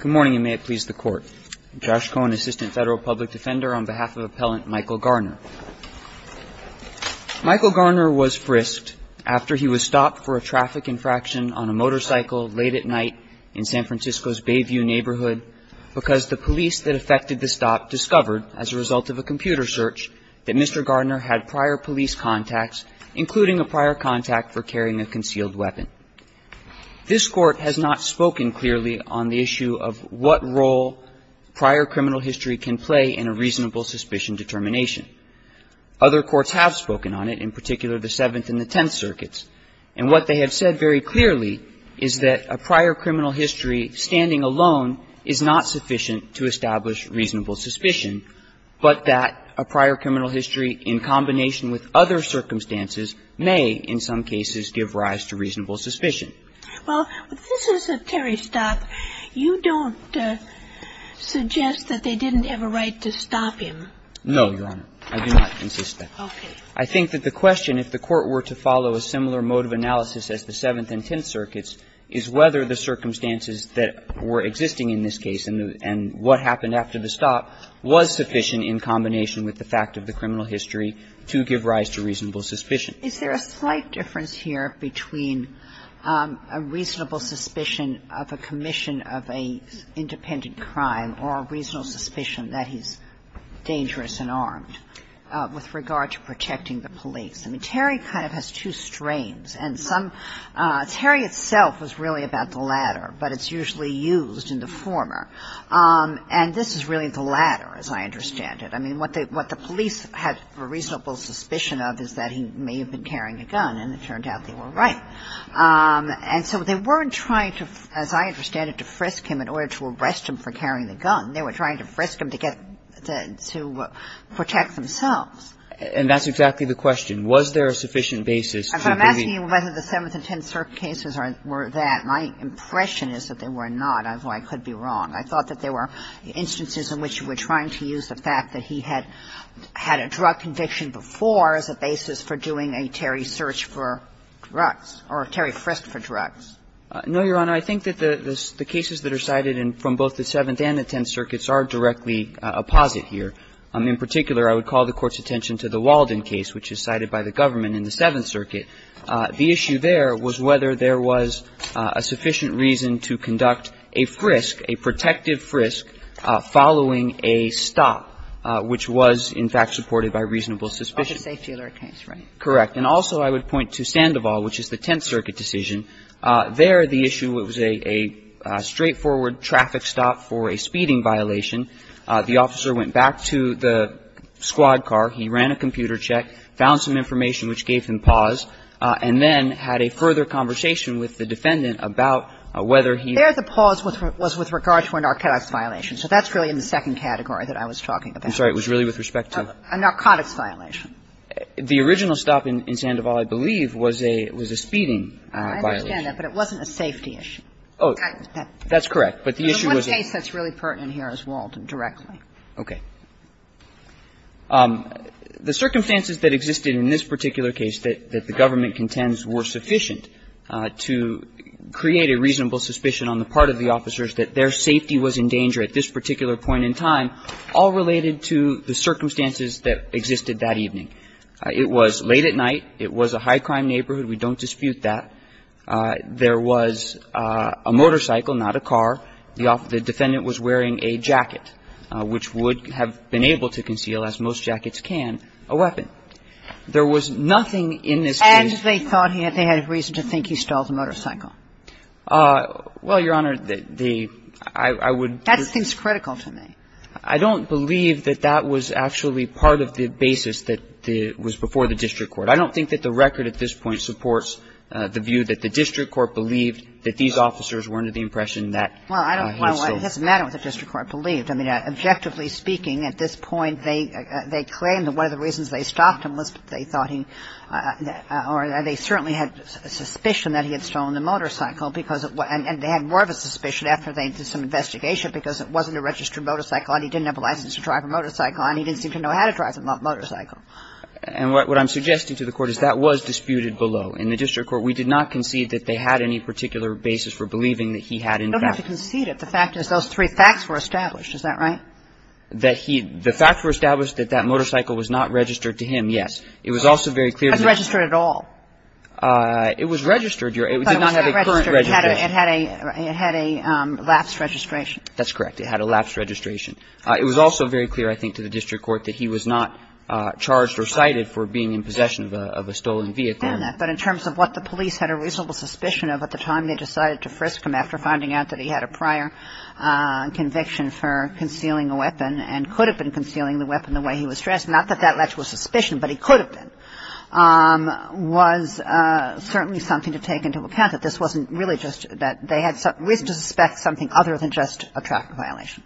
Good morning, and may it please the Court. I'm Josh Cohen, Assistant Federal Public Defender, on behalf of Appellant Michael Garner. Michael Garner was frisked after he was stopped for a traffic infraction on a motorcycle late at night in San Francisco's Bayview neighborhood because the police that affected the stop discovered, as a result of a computer search, that Mr. Garner had prior police contacts, including a prior contact for carrying a concealed weapon. This Court has not spoken clearly on the issue of what role prior criminal history can play in a reasonable suspicion determination. Other courts have spoken on it, in particular the Seventh and the Tenth Circuits, and what they have said very clearly is that a prior criminal history standing alone is not sufficient to establish reasonable suspicion, but that a prior criminal history in combination with other circumstances may, in some cases, give rise to reasonable suspicion. Well, this is a Terry stop. You don't suggest that they didn't have a right to stop him? No, Your Honor. I do not insist that. Okay. I think that the question, if the Court were to follow a similar mode of analysis as the Seventh and Tenth Circuits, is whether the circumstances that were existing in this case and what happened after the stop was sufficient in combination with the fact of the criminal history to give rise to reasonable suspicion. Is there a slight difference here between a reasonable suspicion of a commission of an independent crime or a reasonable suspicion that he's dangerous and armed with regard to protecting the police? I mean, Terry kind of has two strains, and some – Terry itself was really about the latter, but it's usually used in the former. And this is really the latter, as I understand it. I mean, what the police had a reasonable suspicion of is that he may have been carrying a gun, and it turned out they were right. And so they weren't trying to, as I understand it, to frisk him in order to arrest him for carrying the gun. They were trying to frisk him to get the – to protect themselves. And that's exactly the question. Was there a sufficient basis to believe – If I'm asking you whether the Seventh and Tenth Circuits cases were that, my impression is that they were not, although I could be wrong. I thought that there were instances in which you were trying to use the fact that he had had a drug conviction before as a basis for doing a Terry search for drugs or a Terry frisk for drugs. No, Your Honor. I think that the cases that are cited in – from both the Seventh and the Tenth Circuits are directly apposite here. In particular, I would call the Court's attention to the Walden case, which is cited by the government in the Seventh Circuit. The issue there was whether there was a sufficient reason to conduct a frisk, a protective frisk following a stop, which was in fact supported by reasonable suspicion. Of the safety alert case, right. And also, I would point to Sandoval, which is the Tenth Circuit decision. There, the issue was a straightforward traffic stop for a speeding violation. The officer went back to the squad car, he ran a computer check, found some information which gave him pause, and then had a further conversation with the defendant about whether he – There, the pause was with regard to a narcotics violation. So that's really in the second category that I was talking about. I'm sorry. It was really with respect to – A narcotics violation. The original stop in Sandoval, I believe, was a – was a speeding violation. I understand that, but it wasn't a safety issue. Oh, that's correct. But the issue was – The one case that's really pertinent here is Walden directly. Okay. The circumstances that existed in this particular case that the government contends were sufficient to create a reasonable suspicion on the part of the officers that their safety was in danger at this particular point in time, all related to the circumstances that existed that evening. It was late at night. It was a high-crime neighborhood. We don't dispute that. There was a motorcycle, not a car. The defendant was wearing a jacket, which would have been able to conceal, as most jackets can, a weapon. There was nothing in this case – And they thought he – they had reason to think he stole the motorcycle. Well, Your Honor, the – I would – That seems critical to me. I don't believe that that was actually part of the basis that was before the district court. I don't think that the record at this point supports the view that the district court believed that these officers were under the impression that he was stolen. Well, it doesn't matter what the district court believed. I mean, objectively speaking, at this point, they claimed that one of the reasons they stopped him was they thought he – or they certainly had suspicion that he had stolen the motorcycle because it – and they had more of a suspicion after they did some investigation because it wasn't a registered motorcycle and he didn't have a license to drive a motorcycle and he didn't seem to know how to drive a motorcycle. And what I'm suggesting to the Court is that was disputed below. In the district court, we did not concede that they had any particular basis for believing that he had, in fact – You don't have to concede it. The fact is those three facts were established. Is that right? That he – the facts were established that that motorcycle was not registered to him, yes. It was also very clear that – It wasn't registered at all. It was registered, Your Honor. It did not have a current registration. It had a – it had a lapse registration. That's correct. It had a lapse registration. It was also very clear, I think, to the district court that he was not charged or cited for being in possession of a stolen vehicle. But in terms of what the police had a reasonable suspicion of at the time they decided to frisk him after finding out that he had a prior conviction for concealing a weapon and could have been concealing the weapon the way he was dressed, not that that led to a suspicion, but he could have been, was certainly something to take into account that this wasn't really just – that they had risked to suspect something other than just a traffic violation.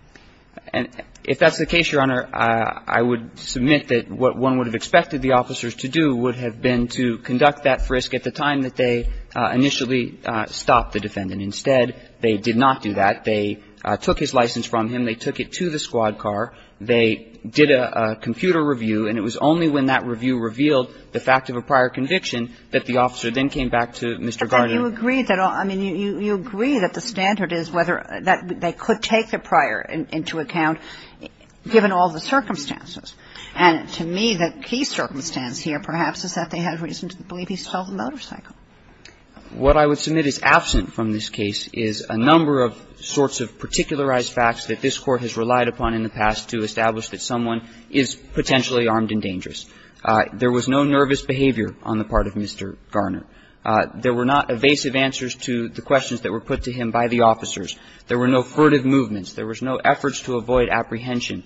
If that's the case, Your Honor, I would submit that what one would have expected the officers to do would have been to conduct that frisk at the time that they initially stopped the defendant. Instead, they did not do that. They took his license from him. They took it to the squad car. They did a computer review, and it was only when that review revealed the fact of a prior conviction that the officer then came back to Mr. Gardner. Kagan. You agree that – I mean, you agree that the standard is whether – that they could take the prior into account given all the circumstances. And to me, the key circumstance here perhaps is that they had reason to believe he stole the motorcycle. What I would submit is absent from this case is a number of sorts of particularized facts that this Court has relied upon in the past to establish that someone is potentially armed and dangerous. There was no nervous behavior on the part of Mr. Gardner. There were not evasive answers to the questions that were put to him by the officers. There were no furtive movements. There was no efforts to avoid apprehension.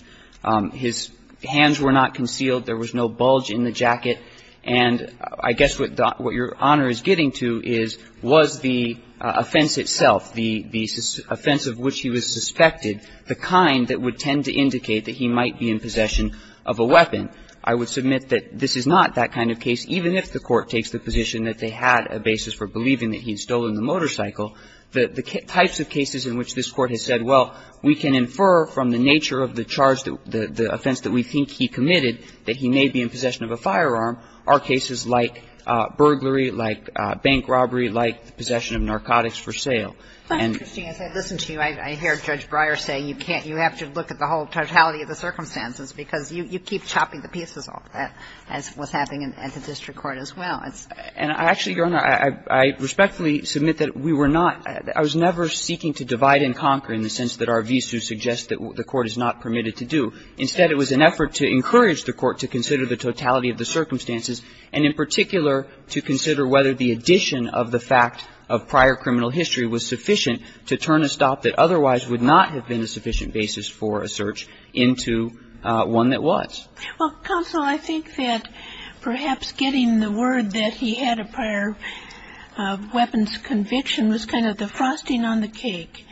His hands were not concealed. There was no bulge in the jacket. And I guess what your Honor is getting to is, was the offense itself, the offense of which he was suspected, the kind that would tend to indicate that he might be in possession of a weapon. I would submit that this is not that kind of case, even if the Court takes the position that they had a basis for believing that he had stolen the motorcycle. The types of cases in which this Court has said, well, we can infer from the nature of the charge, the offense that we think he committed, that he may be in possession of a firearm, are cases like burglary, like bank robbery, like the possession of narcotics for sale. And as I listen to you, I hear Judge Breyer say you can't, you have to look at the whole totality of the circumstances, because you keep chopping the pieces off, as was happening at the district court as well. And I actually, Your Honor, I respectfully submit that we were not – I was never seeking to divide and conquer in the sense that our visas suggest that the Court is not permitted to do. Instead, it was an effort to encourage the Court to consider the totality of the circumstances, and in particular, to consider whether the addition of the fact of prior criminal history was sufficient to turn a stop that otherwise would not have been a sufficient basis for a search into one that was. Well, Counsel, I think that perhaps getting the word that he had a prior weapons conviction was kind of the frosting on the cake.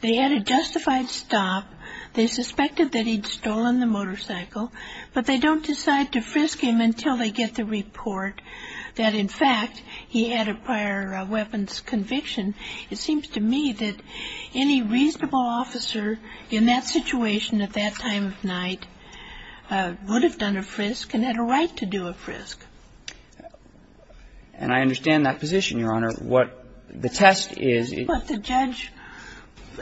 They had a justified stop. They suspected that he'd stolen the motorcycle, but they don't decide to frisk him until they get the report that, in fact, he had a prior weapons conviction. And it seems to me that any reasonable officer in that situation at that time of night would have done a frisk and had a right to do a frisk. And I understand that position, Your Honor. What the test is – That's what the judge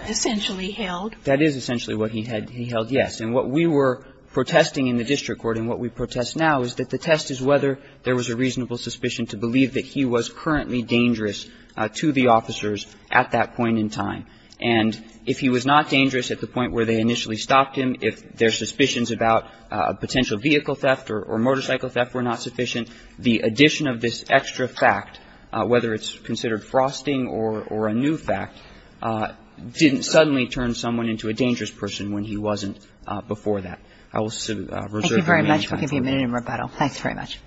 essentially held. That is essentially what he held, yes. And what we were protesting in the district court and what we protest now is that the test is whether there was a reasonable suspicion to believe that he was currently dangerous to the officers at that point in time. And if he was not dangerous at the point where they initially stopped him, if their suspicions about potential vehicle theft or motorcycle theft were not sufficient, the addition of this extra fact, whether it's considered frosting or a new fact, didn't suddenly turn someone into a dangerous person when he wasn't before that. I will reserve my time for that. Thank you very much. We'll give you a minute in rebuttal. Thanks very much.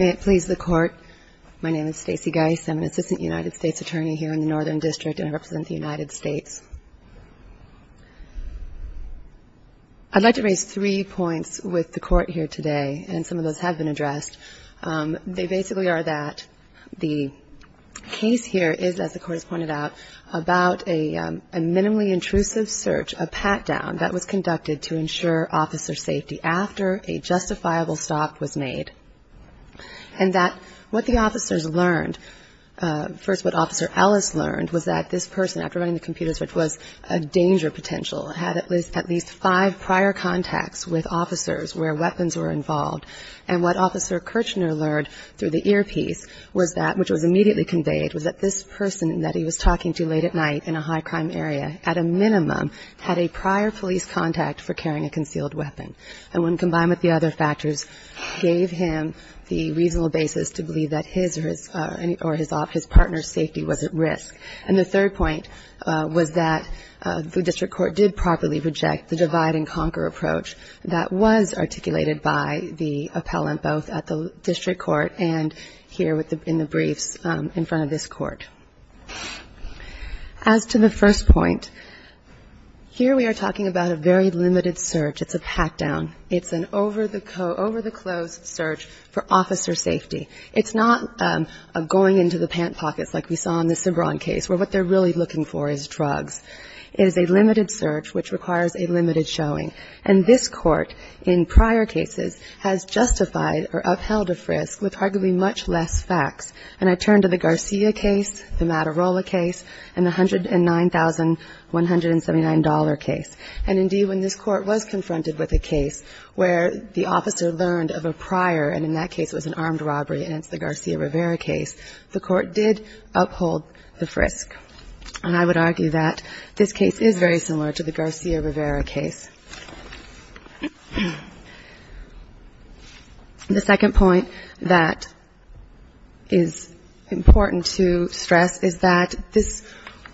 May it please the Court, my name is Stacey Geis. I'm an Assistant United States Attorney here in the Northern District and I represent the United States. I'd like to raise three points with the Court here today, and some of those have been addressed. They basically are that the case here is, as the Court has pointed out, about a minimally intrusive search, a pat-down, that was conducted to ensure officer safety after a justifiable stop was made. And that what the officers learned, first what Officer Ellis learned was that this person, after running the computer search, was a danger potential, had at least five prior contacts with officers where weapons were involved, and what Officer Kirchner learned through the earpiece was that, which was immediately conveyed, was that this person that he was talking to late at night in a high-crime area at a minimum had a prior police contact for carrying a concealed weapon. And when combined with the other factors, gave him the reasonable basis to believe that his or his partner's safety was at risk. And the third point was that the District Court did properly reject the divide-and-conquer approach that was articulated by the appellant, both at the District Court and here in the briefs in front of this Court. As to the first point, here we are talking about a very limited search. It's a pat-down search. It's a pat-down. It's an over-the-clothes search for officer safety. It's not a going-into-the-pant-pockets, like we saw in the Cibron case, where what they're really looking for is drugs. It is a limited search, which requires a limited showing. And this Court, in prior cases, has justified or upheld a frisk with arguably much less facts. And I turn to the Garcia case, the Matarola case, and the $109,179 case. And, indeed, when this Court was confronted with a case where the officer learned of a prior, and in that case it was an armed robbery, and it's the Garcia-Rivera case, the Court did uphold the frisk. And I would argue that this case is very similar to the Garcia-Rivera case. The second point that is important to stress is that this,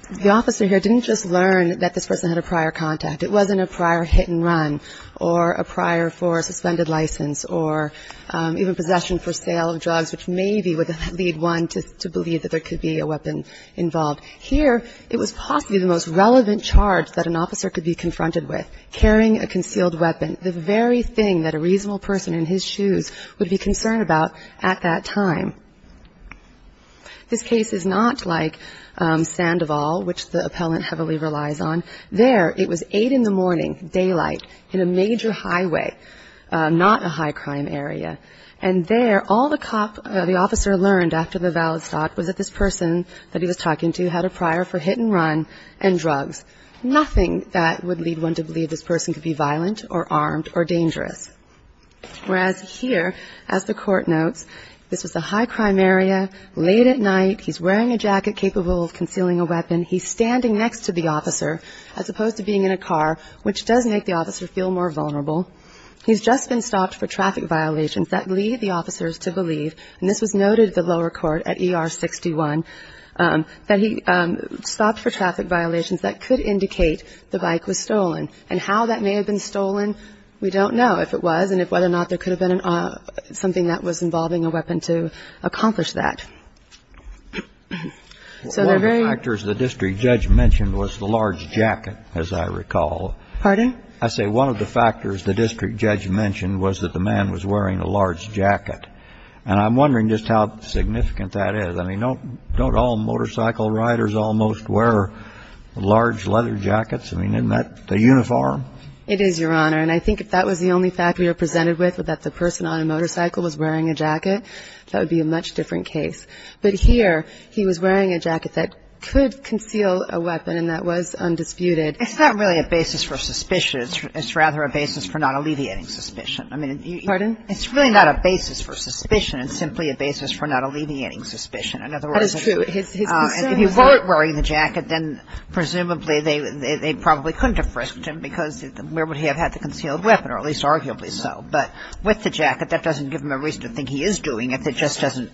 the officer here didn't just learn that this person had a prior contact. It wasn't a prior hit-and-run, or a prior for suspended license, or even possession for sale of drugs, which maybe would lead one to believe that there could be a weapon involved. Here, it was possibly the most relevant charge that an officer could be confronted with, carrying a concealed weapon, the very thing that a reasonable person in his shoes would be concerned about at that time. This case is not like Sandoval, which the appellant heavily relies on. There, it was 8 in the morning, daylight, in a major highway, not a high-crime area. And there, all the cop, the officer learned after the valid stock was that this person that he was talking to had a prior for hit-and-run and drugs. Nothing that would lead one to believe this person could be violent, or armed, or dangerous. Whereas here, as the court notes, this was a high-crime area, late at night, he's wearing a jacket capable of concealing a weapon. He's standing next to the officer, as opposed to being in a car, which does make the officer feel more vulnerable. He's just been stopped for traffic violations that lead the officers to believe, and this was noted at the lower court at ER 61, that he stopped for traffic violations that could indicate the bike was stolen. And how that may have been stolen, we don't know, if it was, and if whether or not there could have been something that was involving a weapon to accomplish that. So they're very ---- One of the factors the district judge mentioned was the large jacket, as I recall. Pardon? I say one of the factors the district judge mentioned was that the man was wearing a large jacket. And I'm wondering just how significant that is. I mean, don't all motorcycle riders almost wear large leather jackets? I mean, isn't that the uniform? It is, Your Honor. And I think if that was the only factor you're presented with, that the person on a motorcycle was wearing a jacket, that would be a much different case. But here, he was wearing a jacket that could conceal a weapon, and that was undisputed. It's not really a basis for suspicion. It's rather a basis for not alleviating suspicion. Pardon? It's really not a basis for suspicion. It's simply a basis for not alleviating suspicion. In other words, if he weren't wearing the jacket, then presumably they probably couldn't have frisked him, because where would he have had the concealed weapon, or at least arguably so. But with the jacket, that doesn't give him a reason to think he is doing it. It just doesn't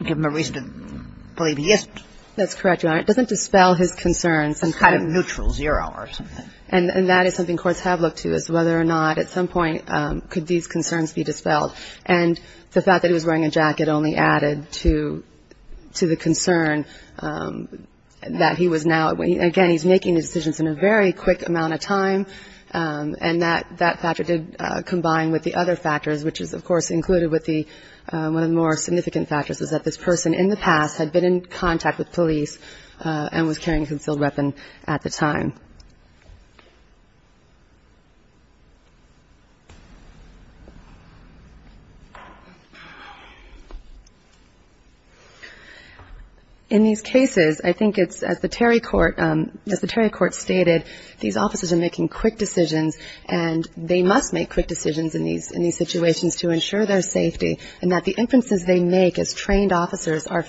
give him a reason to believe he is doing it. That's correct, Your Honor. It doesn't dispel his concerns. It's kind of neutral, zero or something. And that is something courts have looked to, is whether or not at some point could these concerns be dispelled. And the fact that he was wearing a jacket only added to the concern that he was now, again, he's making his decisions in a very quick amount of time, and that factor did combine with the other factors, which is, of course, included with one of the more significant factors, is that this person in the past had been in contact with police and was carrying a concealed weapon at the time. In these cases, I think it's, as the Terry Court stated, these officers are making quick decisions, and they must make quick decisions in these situations to ensure their safety, and that the inferences they make as trained officers are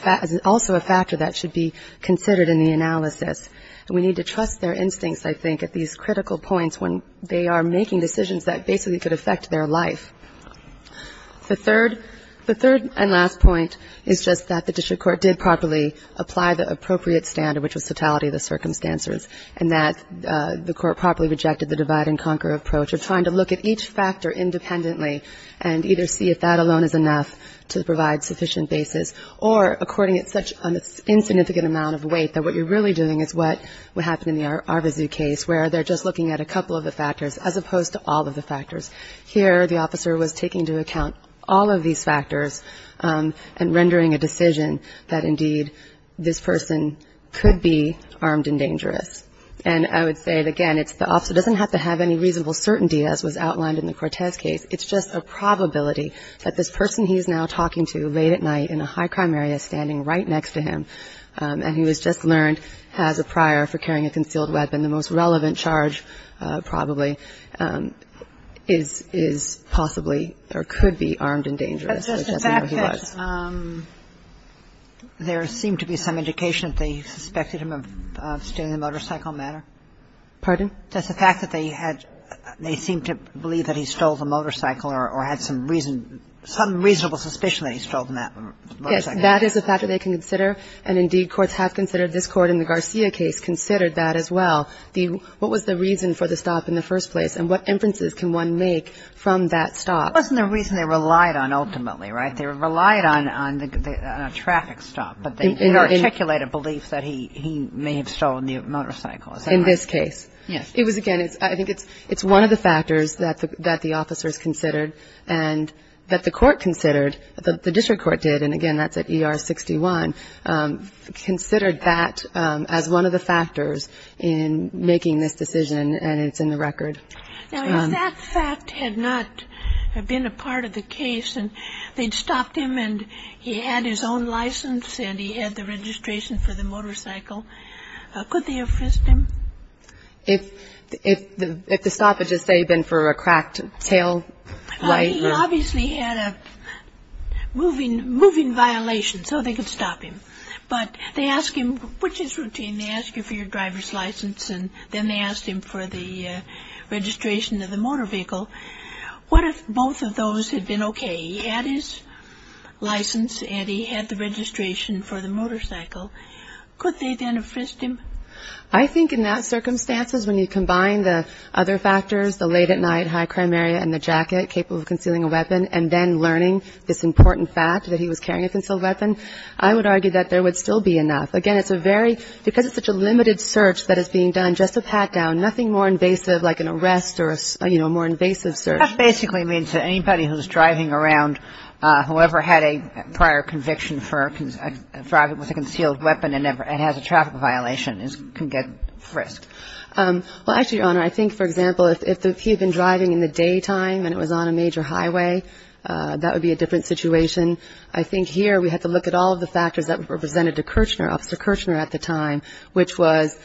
also a factor that should be considered in the analysis. And we need to trust their instincts, I think, at these critical points when they are making decisions that basically could affect their life. The third and last point is just that the district court did properly apply the appropriate standard, which was totality of the circumstances, and that the court properly rejected the divide-and-conquer approach of trying to look at each factor independently and either see if that alone is enough to provide sufficient basis, or according to such an insignificant amount of weight that what you're really doing is what happened in the Arvizu case, where they're just looking at a couple of the factors as opposed to all of the factors. Here, the officer was taking into account all of these factors and rendering a decision that, indeed, this person could be armed and dangerous. And I would say, again, it's the officer doesn't have to have any reasonable certainty, as was outlined in the Cortez case, it's just a probability that this person he's now talking to late at night in a high-crime area standing right next to him, and he was just learned as a prior for carrying a concealed weapon, and the most relevant charge, probably, is possibly or could be armed and dangerous, whichever he was. But just the fact that there seemed to be some indication that they suspected him of stealing a motorcycle matter? Pardon? Just the fact that they had they seemed to believe that he stole the motorcycle or had some reason, some reasonable suspicion that he stole the motorcycle. Okay. That is a factor they can consider, and, indeed, courts have considered, this Court in the Garcia case considered that as well. What was the reason for the stop in the first place? And what inferences can one make from that stop? It wasn't a reason they relied on, ultimately, right? They relied on a traffic stop, but they articulate a belief that he may have stolen the motorcycle. In this case? Yes. It was, again, I think it's one of the factors that the officers considered and that the court considered, the district court did, and, again, that's at ER 61, considered that as one of the factors in making this decision, and it's in the record. Now, if that fact had not been a part of the case, and they'd stopped him, and he had his own license, and he had the registration for the motorcycle, could they have frisked him? If the stop had just, say, been for a cracked tail light? He obviously had a moving violation, so they could stop him. But they ask him, which is routine, they ask you for your driver's license, and then they asked him for the registration of the motor vehicle. What if both of those had been okay? He had his license, and he had the registration for the motorcycle. Could they then have frisked him? I think in those circumstances, when you combine the other factors, the late at night, high crime area, and the jacket, capable of concealing a weapon, and then learning this important fact that he was carrying a concealed weapon, I would argue that there would still be enough. Again, it's a very, because it's such a limited search that is being done, just a pat down, nothing more invasive, like an arrest or, you know, a more invasive search. That basically means that anybody who's driving around, whoever had a prior conviction for a driver with a concealed weapon, and has a traffic violation, can get frisked. Well, actually, Your Honor, I think, for example, if he had been driving in the daytime, and it was on a major highway, that would be a different situation. I think here we have to look at all of the factors that were presented to Kirchner, Officer Kirchner at the time, which was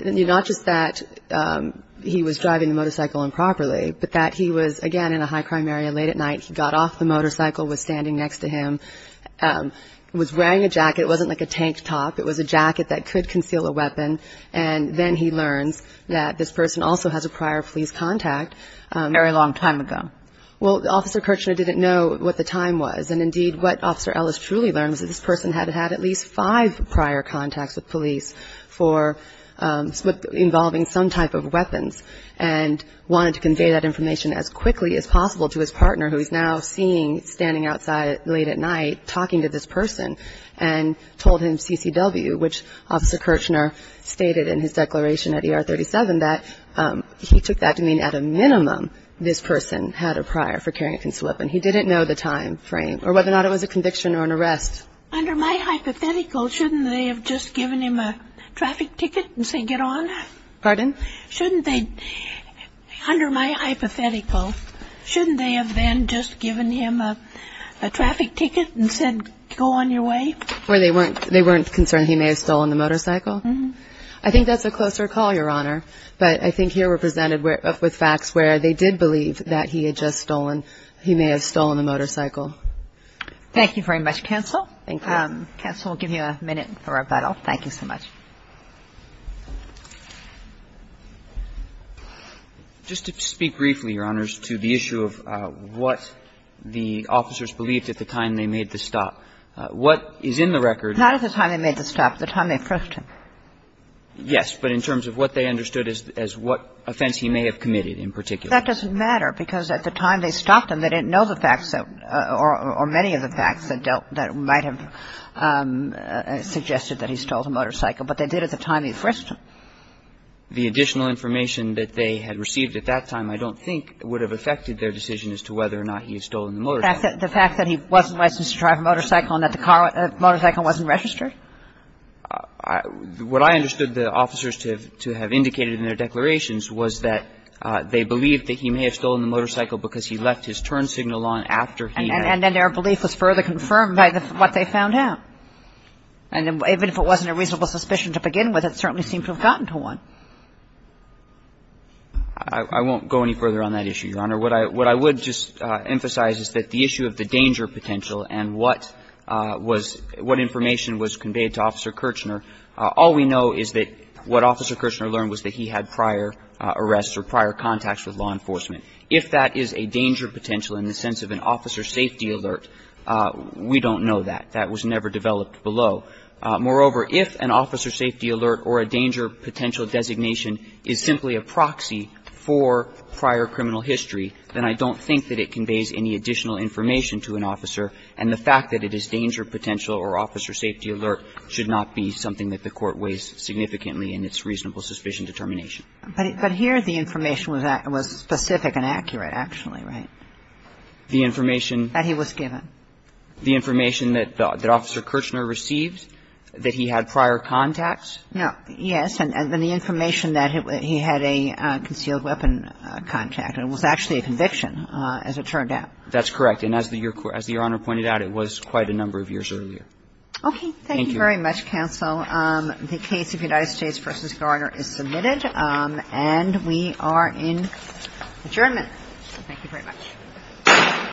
not just that he was driving the motorcycle improperly, but that he was, again, in a high crime area, late at night, he got off the motorcycle, was standing next to him, was wearing a jacket, it wasn't like a tank top, it was a jacket that could conceal a weapon, and then he learns that this person also has a prior police contact. Very long time ago. Well, Officer Kirchner didn't know what the time was, and indeed, what Officer Ellis truly learned was that this person had had at least five prior contacts with police for, involving some type of weapons, and wanted to convey that information as quickly as possible to his partner, who he's now seeing standing outside late at night, talking to this person, and told him CCW, which Officer Kirchner stated in his declaration at ER 37 that he took that to mean at a minimum, this person had a prior for carrying a concealed weapon. He didn't know the time frame, or whether or not it was a conviction or an arrest. Under my hypothetical, shouldn't they have just given him a traffic ticket and said get on? Pardon? Shouldn't they, under my hypothetical, shouldn't they have then just given him a traffic ticket and said go on your way? Where they weren't concerned he may have stolen the motorcycle? I think that's a closer call, Your Honor, but I think here we're presented with facts where they did believe that he had just stolen, he may have stolen the motorcycle. Thank you very much, Counsel. Counsel, we'll give you a minute for rebuttal. Thank you so much. Just to speak briefly, Your Honors, to the issue of what the officers believed at the time they made the stop. What is in the record Not at the time they made the stop, the time they frisked him. Yes, but in terms of what they understood as what offense he may have committed in particular. That doesn't matter, because at the time they stopped him, they didn't know the facts or many of the facts that might have suggested that he stole the motorcycle, but they did at the time he frisked him. The additional information that they had received at that time I don't think would have affected their decision as to whether or not he had stolen the motorcycle. The fact that he wasn't licensed to drive a motorcycle and that the motorcycle wasn't registered? What I understood the officers to have indicated in their declarations was that they believed that he may have stolen the motorcycle because he left his turn signal on after he had. And then their belief was further confirmed by what they found out. And even if it wasn't a reasonable suspicion to begin with, it certainly seemed to have gotten to one. I won't go any further on that issue, Your Honor. What I would just emphasize is that the issue of the danger potential and what information was conveyed to Officer Kirchner, all we know is that what Officer Kirchner learned was that he had prior arrests or prior contacts with law enforcement. If that is a danger potential in the sense of an officer safety alert, we don't know that. That was never developed below. Moreover, if an officer safety alert or a danger potential designation is simply a proxy for prior criminal history, then I don't think that it conveys any additional information to an officer. And the fact that it is danger potential or officer safety alert should not be something that the Court weighs significantly in its reasonable suspicion determination. But here the information was specific and accurate, actually, right? The information that he was given. The information that Officer Kirchner received, that he had prior contacts. Yes. And the information that he had a concealed weapon contact. It was actually a conviction, as it turned out. That's correct. And as Your Honor pointed out, it was quite a number of years earlier. Okay. Thank you very much, counsel. The case of United States v. Garner is submitted, and we are in adjournment.